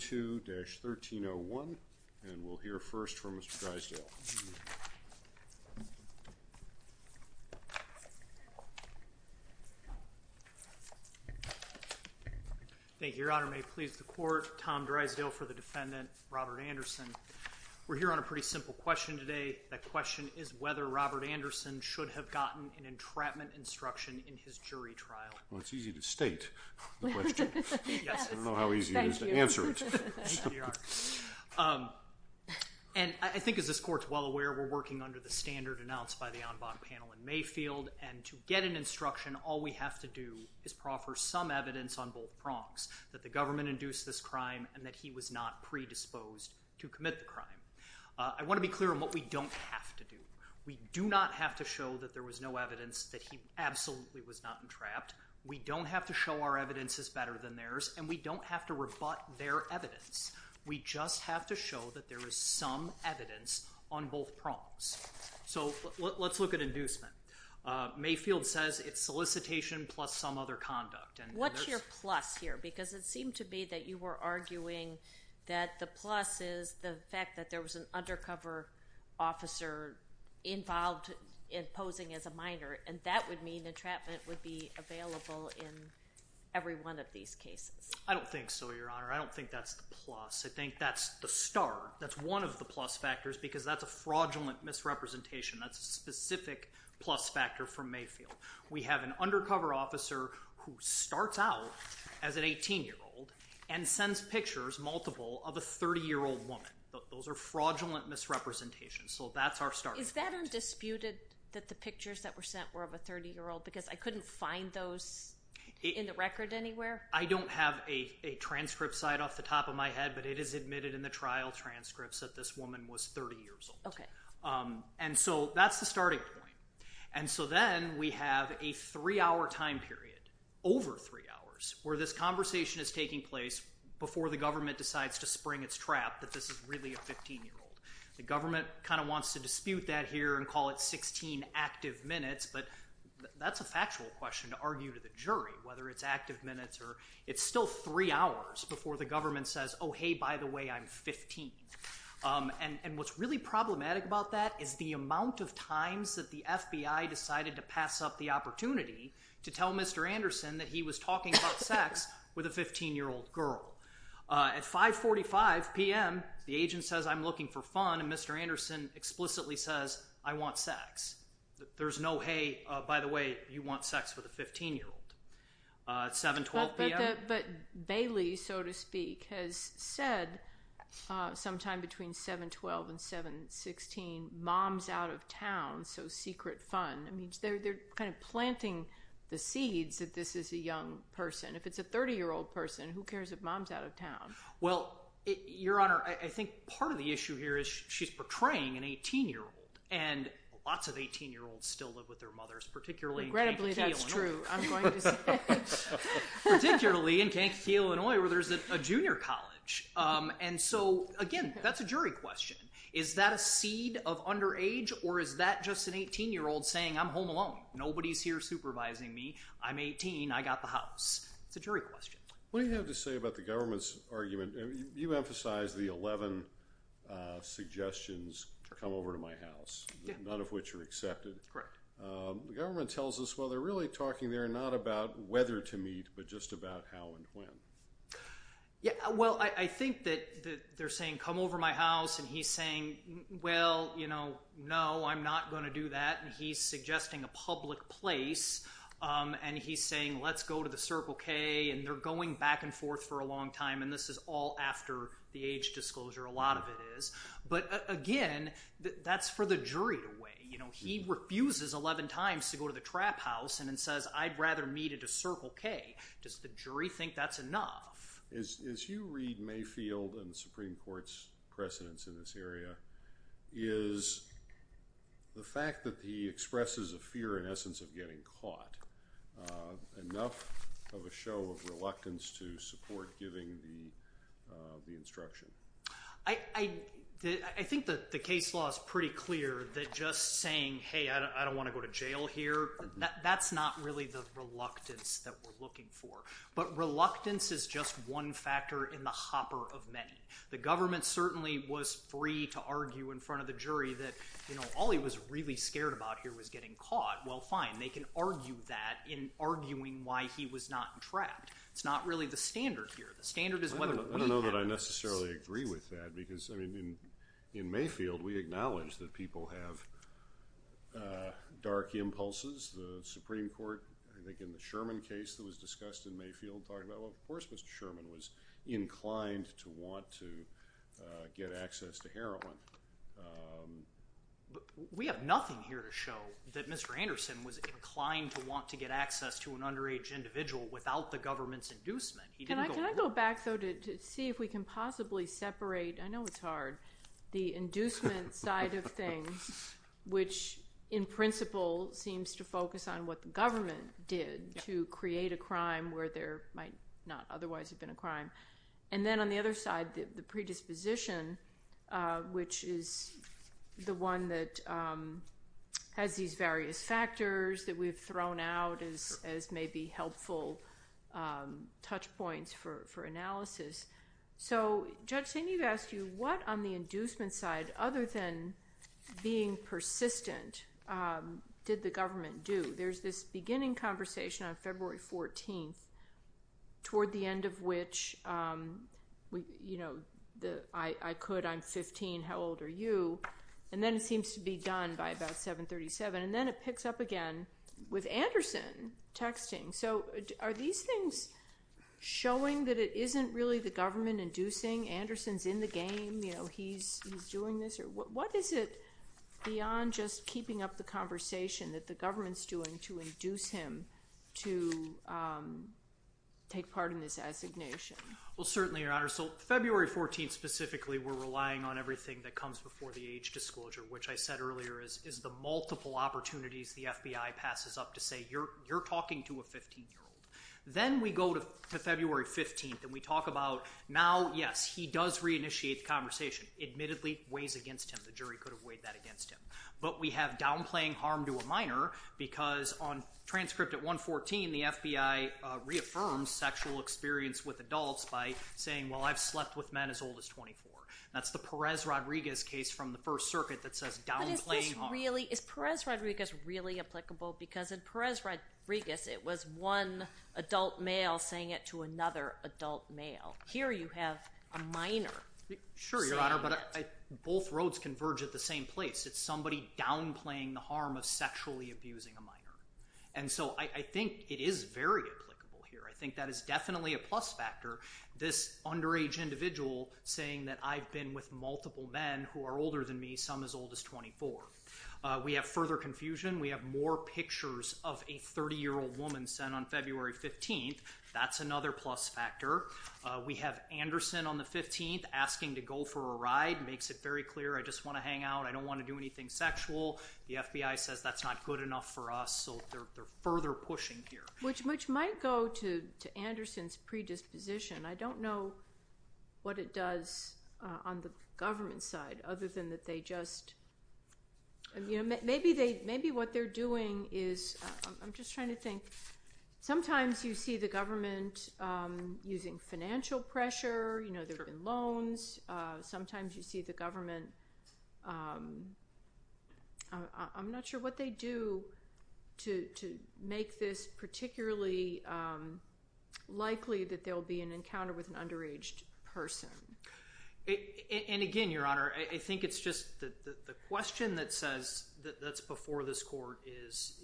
22-1301, and we'll hear first from Mr. Drysdale. Thank you, Your Honor. May it please the Court, Tom Drysdale for the defendant, Robert Anderson. We're here on a pretty simple question today. That question is whether Robert Anderson should have gotten an entrapment instruction in his jury trial. Well, it's easy to state the question. Yes. I don't know how easy it is to answer it. Thank you, Your Honor. And I think, as this Court's well aware, we're working under the standard announced by the en banc panel in Mayfield, and to get an instruction, all we have to do is proffer some evidence on both prongs, that the government induced this crime and that he was not predisposed to commit the crime. I want to be clear on what we don't have to do. We do not have to show that there was no evidence that he absolutely was not entrapped. We don't have to show our evidence is better than theirs, and we don't have to rebut their evidence. We just have to show that there is some evidence on both prongs. So let's look at inducement. Mayfield says it's solicitation plus some other conduct. What's your plus here? Because it seemed to me that you were arguing that the plus is the fact that there was an undercover officer involved in posing as a minor, and that would mean entrapment would be available in every one of these cases. I don't think so, Your Honor. I don't think that's the plus. I think that's the star. That's one of the plus factors because that's a fraudulent misrepresentation. That's a specific plus factor for Mayfield. We have an undercover officer who starts out as an 18-year-old and sends pictures, multiple, of a 30-year-old woman. Those are fraudulent misrepresentations, so that's our starting point. Is that undisputed that the pictures that were sent were of a 30-year-old because I couldn't find those in the record anywhere? I don't have a transcript site off the top of my head, but it is admitted in the trial transcripts that this woman was 30 years old. Okay. And so that's the starting point. And so then we have a three-hour time period, over three hours, where this conversation is taking place before the government decides to spring its trap that this is really a 15-year-old. The government kind of wants to dispute that here and call it 16 active minutes, but that's a factual question to argue to the jury whether it's active minutes or it's still three hours before the government says, oh, hey, by the way, I'm 15. And what's really problematic about that is the amount of times that the FBI decided to pass up the opportunity to tell Mr. Anderson that he was talking about sex with a 15-year-old girl. At 5.45 p.m., the agent says, I'm looking for fun, and Mr. Anderson explicitly says, I want sex. There's no, hey, by the way, you want sex with a 15-year-old. At 7.12 p.m. But Bailey, so to speak, has said sometime between 7.12 and 7.16, mom's out of town, so secret fun. I mean, they're kind of planting the seeds that this is a young person. If it's a 30-year-old person, who cares if mom's out of town? Well, Your Honor, I think part of the issue here is she's portraying an 18-year-old, and lots of 18-year-olds still live with their mothers, particularly in Kentucky. Regrettably, that's true. Particularly in Kentucky, Illinois, where there's a junior college. And so, again, that's a jury question. Is that a seed of underage, or is that just an 18-year-old saying, I'm home alone? Nobody's here supervising me. I'm 18. I got the house. It's a jury question. What do you have to say about the government's argument? You emphasized the 11 suggestions to come over to my house, none of which are accepted. Correct. The government tells us, well, they're really talking there not about whether to meet, but just about how and when. Yeah, well, I think that they're saying, come over to my house. And he's saying, well, you know, no, I'm not going to do that. And he's suggesting a public place. And he's saying, let's go to the Circle K. And they're going back and forth for a long time. And this is all after the age disclosure. But, again, that's for the jury to weigh. He refuses 11 times to go to the trap house and then says, I'd rather meet at a Circle K. Does the jury think that's enough? As you read Mayfield and the Supreme Court's precedents in this area, is the fact that he expresses a fear, in essence, of getting caught enough of a show of reluctance to support giving the instruction? I think that the case law is pretty clear that just saying, hey, I don't want to go to jail here, that's not really the reluctance that we're looking for. But reluctance is just one factor in the hopper of many. The government certainly was free to argue in front of the jury that, you know, all he was really scared about here was getting caught. Well, fine, they can argue that in arguing why he was not trapped. It's not really the standard here. I don't know that I necessarily agree with that because, I mean, in Mayfield we acknowledge that people have dark impulses. The Supreme Court, I think in the Sherman case that was discussed in Mayfield, talked about, well, of course Mr. Sherman was inclined to want to get access to heroin. We have nothing here to show that Mr. Anderson was inclined to want to get access to an underage individual without the government's inducement. Can I go back, though, to see if we can possibly separate – I know it's hard – the inducement side of things, which in principle seems to focus on what the government did to create a crime where there might not otherwise have been a crime, and then on the other side the predisposition, which is the one that has these various factors that we've thrown out as maybe helpful touch points for analysis. So, Judge, I need to ask you, what on the inducement side, other than being persistent, did the government do? There's this beginning conversation on February 14th toward the end of which I could, I'm 15, how old are you? And then it seems to be done by about 737, and then it picks up again with Anderson texting. So are these things showing that it isn't really the government inducing? Anderson's in the game, he's doing this? What is it beyond just keeping up the conversation that the government's doing to induce him to take part in this assignation? Well, certainly, Your Honor, so February 14th specifically we're relying on everything that comes before the age disclosure, which I said earlier is the multiple opportunities the FBI passes up to say, you're talking to a 15-year-old. Then we go to February 15th and we talk about, now, yes, he does reinitiate the conversation. Admittedly, weighs against him, the jury could have weighed that against him. But we have downplaying harm to a minor because on transcript at 114, the FBI reaffirms sexual experience with adults by saying, well, I've slept with men as old as 24. That's the Perez-Rodriguez case from the First Circuit that says downplaying harm. But is this really, is Perez-Rodriguez really applicable? Because in Perez-Rodriguez it was one adult male saying it to another adult male. Here you have a minor saying it. Sure, Your Honor, but both roads converge at the same place. It's somebody downplaying the harm of sexually abusing a minor. And so I think it is very applicable here. I think that is definitely a plus factor, this underage individual saying that I've been with multiple men who are older than me, some as old as 24. We have further confusion. We have more pictures of a 30-year-old woman sent on February 15th. That's another plus factor. We have Anderson on the 15th asking to go for a ride, makes it very clear, I just want to hang out. I don't want to do anything sexual. The FBI says that's not good enough for us, so they're further pushing here. Which might go to Anderson's predisposition. I don't know what it does on the government side other than that they just, you know, maybe what they're doing is, I'm just trying to think. Sometimes you see the government using financial pressure. You know, there have been loans. Sometimes you see the government, I'm not sure what they do to make this particularly likely that there will be an encounter with an underage person. And again, Your Honor, I think it's just the question that says that's before this court is,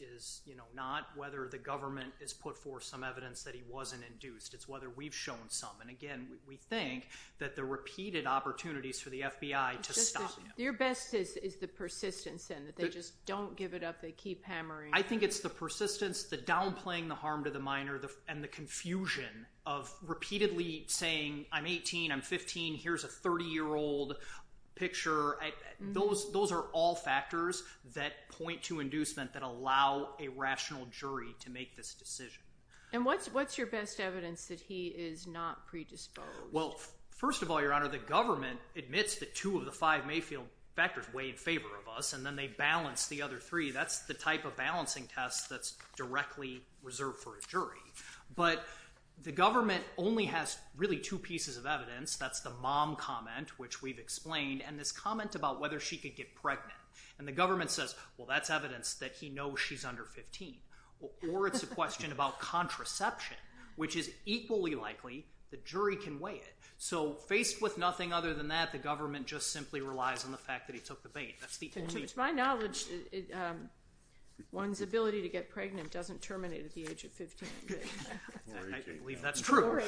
you know, not whether the government has put forth some evidence that he wasn't induced. It's whether we've shown some. And again, we think that the repeated opportunities for the FBI to stop, you know. Your best is the persistence and that they just don't give it up. They keep hammering. I think it's the persistence, the downplaying the harm to the minor, and the confusion of repeatedly saying, I'm 18, I'm 15, here's a 30-year-old picture. Those are all factors that point to inducement that allow a rational jury to make this decision. And what's your best evidence that he is not predisposed? Well, first of all, Your Honor, the government admits that two of the five may feel factors way in favor of us, and then they balance the other three. That's the type of balancing test that's directly reserved for a jury. But the government only has really two pieces of evidence. That's the mom comment, which we've explained, and this comment about whether she could get pregnant. And the government says, well, that's evidence that he knows she's under 15. Or it's a question about contraception, which is equally likely the jury can weigh it. So faced with nothing other than that, the government just simply relies on the fact that he took the bait. To my knowledge, one's ability to get pregnant doesn't terminate at the age of 15. I believe that's true.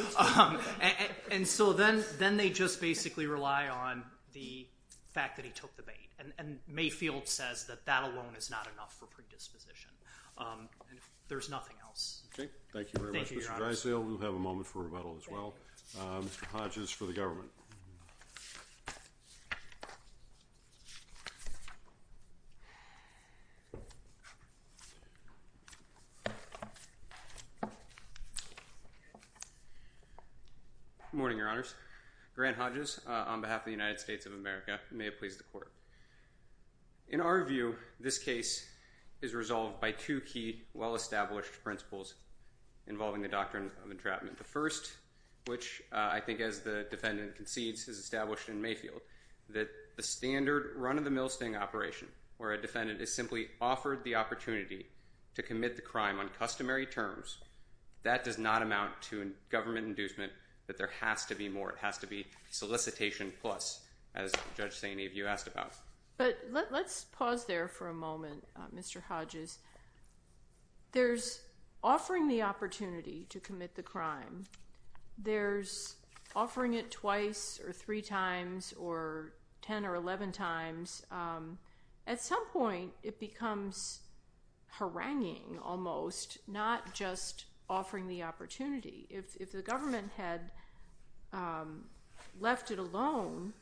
And so then they just basically rely on the fact that he took the bait. And Mayfield says that that alone is not enough for predisposition. There's nothing else. Thank you very much, Mr. Dreisel. We'll have a moment for rebuttal as well. Mr. Hodges for the government. Good morning, Your Honors. Grant Hodges on behalf of the United States of America. May it please the Court. In our view, this case is resolved by two key well-established principles involving the doctrine of entrapment. The first, which I think as the defendant concedes is established in Mayfield, that the standard run-of-the-mill sting operation where a defendant is simply offered the opportunity to commit the crime on customary terms, that does not amount to government inducement, that there has to be more. It has to be solicitation plus, as Judge Saini, you asked about. But let's pause there for a moment, Mr. Hodges. There's offering the opportunity to commit the crime. There's offering it twice or three times or 10 or 11 times. At some point, it becomes haranguing almost, not just offering the opportunity. If the government had left it alone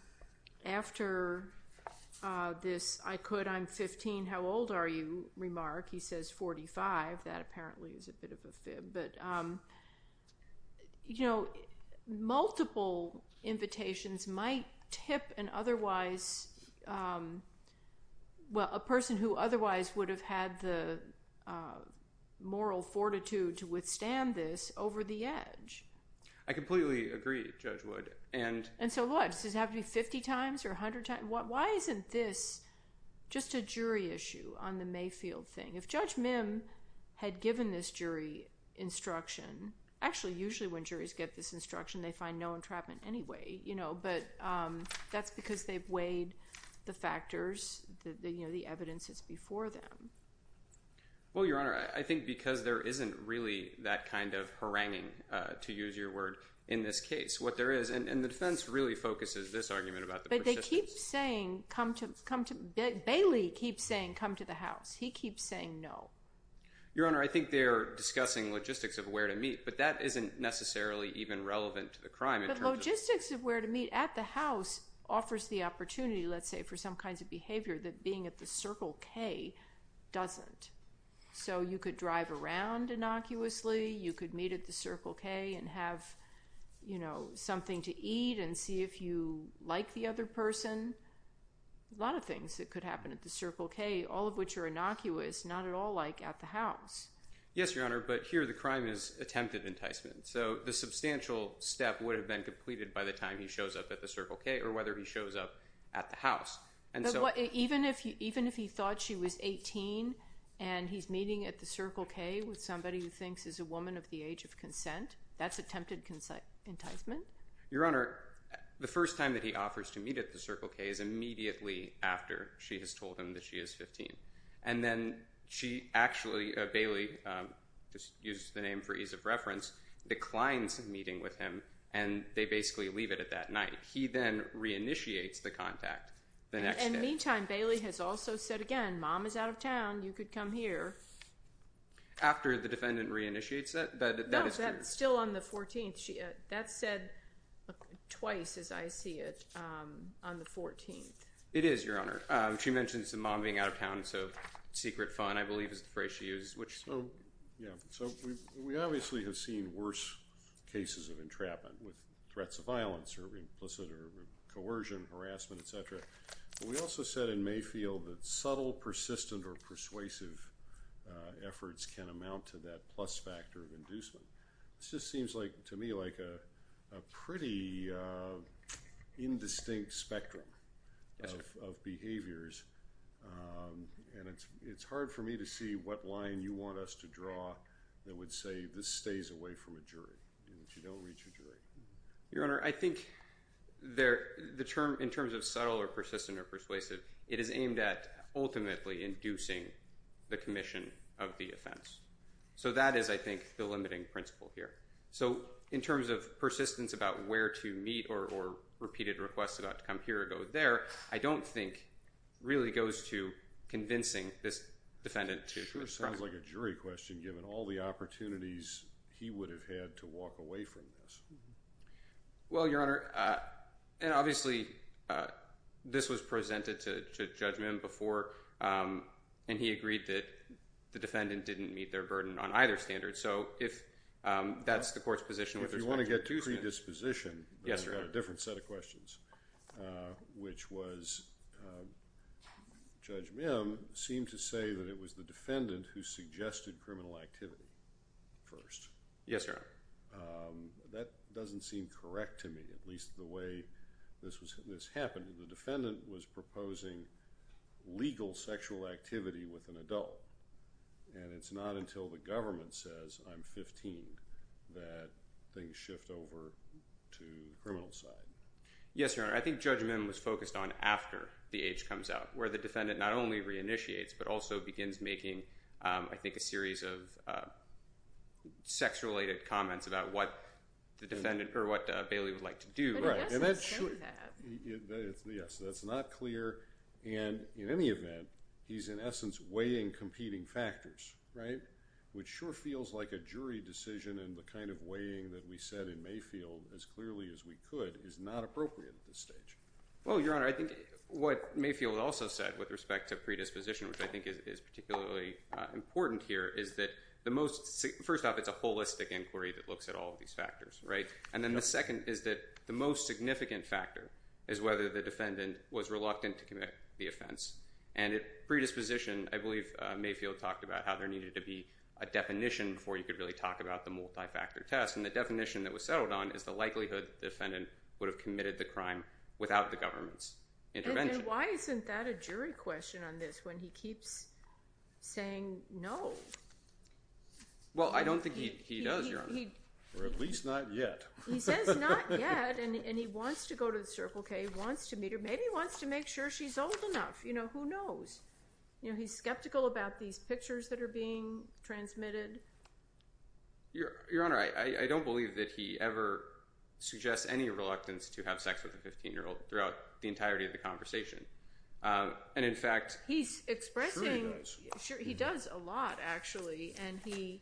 after this I could, I'm 15, how old are you remark, he says 45. That apparently is a bit of a fib. But multiple invitations might tip an otherwise, well, a person who otherwise would have had the moral fortitude to withstand this over the edge. I completely agree, Judge Wood. And so what? Does it have to be 50 times or 100 times? Why isn't this just a jury issue on the Mayfield thing? If Judge Mim had given this jury instruction, actually, usually when juries get this instruction, they find no entrapment anyway. But that's because they've weighed the factors, the evidence that's before them. Well, Your Honor, I think because there isn't really that kind of haranguing, to use your word, in this case. What there is, and the defense really focuses this argument about the persistence. But they keep saying, come to, Bailey keeps saying, come to the house. He keeps saying no. Your Honor, I think they're discussing logistics of where to meet. But that isn't necessarily even relevant to the crime. But logistics of where to meet at the house offers the opportunity, let's say, for some kinds of behavior that being at the Circle K doesn't. So you could drive around innocuously. You could meet at the Circle K and have something to eat and see if you like the other person. A lot of things that could happen at the Circle K, all of which are innocuous, not at all like at the house. Yes, Your Honor, but here the crime is attempted enticement. So the substantial step would have been completed by the time he shows up at the Circle K or whether he shows up at the house. Even if he thought she was 18 and he's meeting at the Circle K with somebody who thinks is a woman of the age of consent, that's attempted enticement? Your Honor, the first time that he offers to meet at the Circle K is immediately after she has told him that she is 15. And then she actually, Bailey, just use the name for ease of reference, declines meeting with him, and they basically leave it at that night. He then reinitiates the contact the next day. In the meantime, Bailey has also said again, Mom is out of town. You could come here. After the defendant reinitiates that? No, still on the 14th. That's said twice, as I see it, on the 14th. It is, Your Honor. She mentions the mom being out of town, so secret fun, I believe, is the phrase she used. Yeah, so we obviously have seen worse cases of entrapment with threats of violence or implicit or coercion, harassment, et cetera. But we also said in Mayfield that subtle, persistent, or persuasive efforts can amount to that plus factor of inducement. This just seems to me like a pretty indistinct spectrum of behaviors, and it's hard for me to see what line you want us to draw that would say this stays away from a jury, that you don't reach a jury. Your Honor, I think in terms of subtle or persistent or persuasive, it is aimed at ultimately inducing the commission of the offense. So that is, I think, the limiting principle here. So in terms of persistence about where to meet or repeated requests about to come here or go there, I don't think really goes to convincing this defendant to retract. Sure sounds like a jury question, given all the opportunities he would have had to walk away from this. Well, Your Honor, and obviously this was presented to Judge Mim before, and he agreed that the defendant didn't meet their burden on either standard. So if that's the court's position with respect to inducement. If you want to get to predisposition, I've got a different set of questions, which was Judge Mim seemed to say that it was the defendant who suggested criminal activity first. Yes, Your Honor. That doesn't seem correct to me, at least the way this happened. The defendant was proposing legal sexual activity with an adult, and it's not until the government says, I'm 15, that things shift over to the criminal side. Yes, Your Honor. I think Judge Mim was focused on after the age comes out, where the defendant not only reinitiates, but also begins making, I think, a series of sex-related comments about what the defendant, or what Bailey would like to do. But I guess he's saying that. Yes, that's not clear. And in any event, he's in essence weighing competing factors, which sure feels like a jury decision, and the kind of weighing that we said in Mayfield as clearly as we could is not appropriate at this stage. Well, Your Honor, I think what Mayfield also said with respect to predisposition, which I think is particularly important here, is that the most – first off, it's a holistic inquiry that looks at all of these factors. And then the second is that the most significant factor is whether the defendant was reluctant to commit the offense. And at predisposition, I believe Mayfield talked about how there needed to be a definition before you could really talk about the multi-factor test. And the definition that was settled on is the likelihood the defendant would have committed the crime without the government's intervention. And why isn't that a jury question on this, when he keeps saying no? Or at least not yet. He says not yet, and he wants to go to the circle. He wants to meet her. Maybe he wants to make sure she's old enough. Who knows? He's skeptical about these pictures that are being transmitted. Your Honor, I don't believe that he ever suggests any reluctance to have sex with a 15-year-old throughout the entirety of the conversation. And in fact – He's expressing – Sure he does. He does a lot, actually, and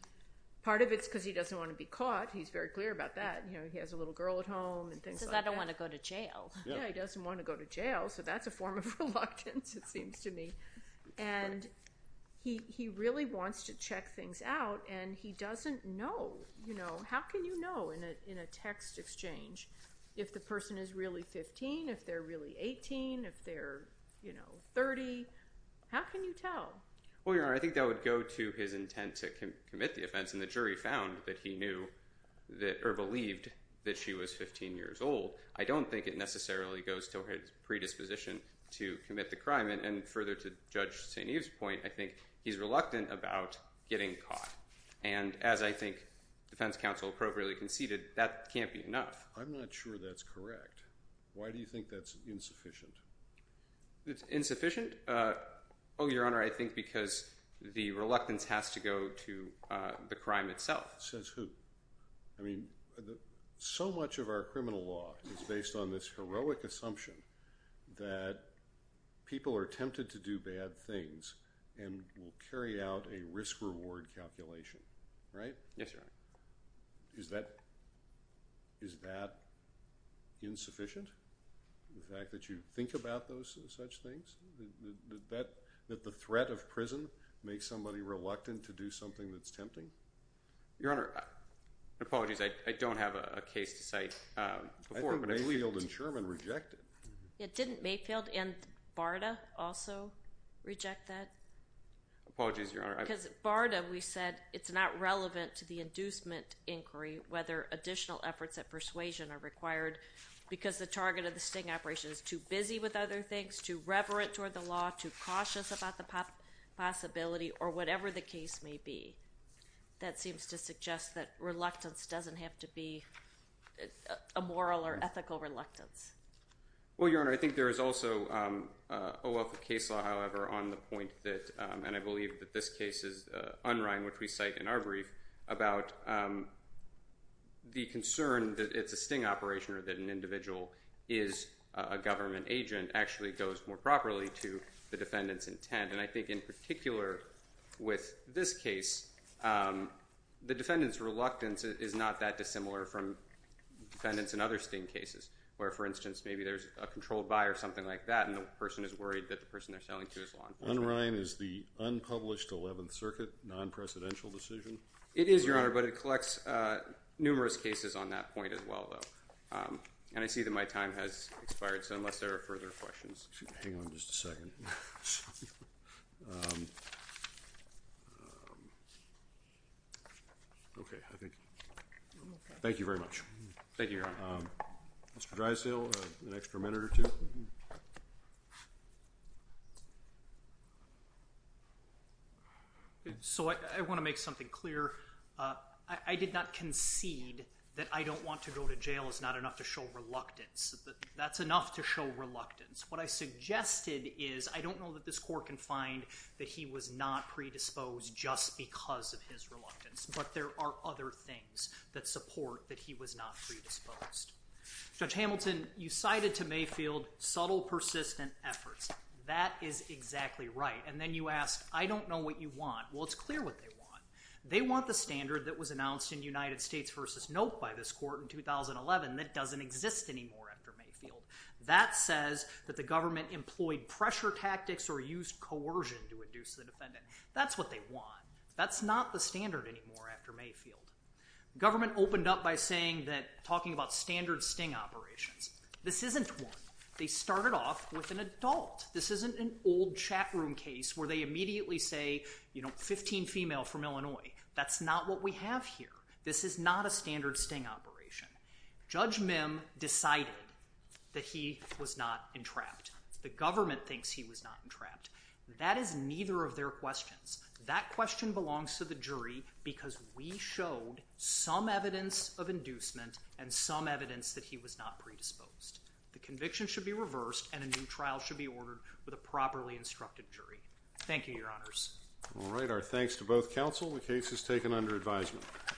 part of it's because he doesn't want to be caught. He's very clear about that. He has a little girl at home and things like that. He says, I don't want to go to jail. Yeah, he doesn't want to go to jail, so that's a form of reluctance, it seems to me. And he really wants to check things out, and he doesn't know. How can you know in a text exchange if the person is really 15, if they're really 18, if they're 30? How can you tell? Well, Your Honor, I think that would go to his intent to commit the offense. And the jury found that he knew or believed that she was 15 years old. I don't think it necessarily goes to his predisposition to commit the crime. And further, to Judge St. Eve's point, I think he's reluctant about getting caught. And as I think defense counsel appropriately conceded, that can't be enough. I'm not sure that's correct. Why do you think that's insufficient? Insufficient? Oh, Your Honor, I think because the reluctance has to go to the crime itself. Says who? I mean, so much of our criminal law is based on this heroic assumption that people are tempted to do bad things and will carry out a risk-reward calculation, right? Yes, Your Honor. Is that insufficient? The fact that you think about such things? That the threat of prison makes somebody reluctant to do something that's tempting? Your Honor, apologies, I don't have a case to cite. I think Mayfield and Sherman reject it. Didn't Mayfield and BARDA also reject that? Apologies, Your Honor. Because BARDA, we said it's not relevant to the inducement inquiry whether additional efforts at persuasion are required because the target of the sting operation is too busy with other things, too reverent toward the law, too cautious about the possibility, or whatever the case may be. That seems to suggest that reluctance doesn't have to be a moral or ethical reluctance. Well, Your Honor, I think there is also a wealth of case law, however, on the point that, and I believe that this case is Unrein, which we cite in our brief, about the concern that it's a sting operation or that an individual is a government agent actually goes more properly to the defendant's intent. And I think in particular with this case, the defendant's reluctance is not that dissimilar from defendants in other sting cases, where, for instance, maybe there's a controlled buyer or something like that and the person is worried that the person they're selling to is law enforcement. Unrein is the unpublished 11th Circuit non-presidential decision? It is, Your Honor, but it collects numerous cases on that point as well, though. And I see that my time has expired, so unless there are further questions. Hang on just a second. Okay. Thank you very much. Thank you, Your Honor. Mr. Drysdale, an extra minute or two? So I want to make something clear. I did not concede that I don't want to go to jail is not enough to show reluctance. That's enough to show reluctance. What I suggested is I don't know that this court can find that he was not predisposed just because of his reluctance, but there are other things that support that he was not predisposed. Judge Hamilton, you cited to Mayfield subtle, persistent efforts. That is exactly right. And then you asked, I don't know what you want. Well, it's clear what they want. They want the standard that was announced in United States v. Note by this court in 2011 that doesn't exist anymore after Mayfield. That says that the government employed pressure tactics or used coercion to induce the defendant. That's what they want. That's not the standard anymore after Mayfield. Government opened up by saying that, talking about standard sting operations, this isn't one. They started off with an adult. This isn't an old chat room case where they immediately say, you know, 15 female from Illinois. That's not what we have here. This is not a standard sting operation. Judge Mim decided that he was not entrapped. The government thinks he was not entrapped. That is neither of their questions. That question belongs to the jury because we showed some evidence of inducement and some evidence that he was not predisposed. The conviction should be reversed, and a new trial should be ordered with a properly instructed jury. Thank you, Your Honors. All right. Our thanks to both counsel. The case is taken under advisement.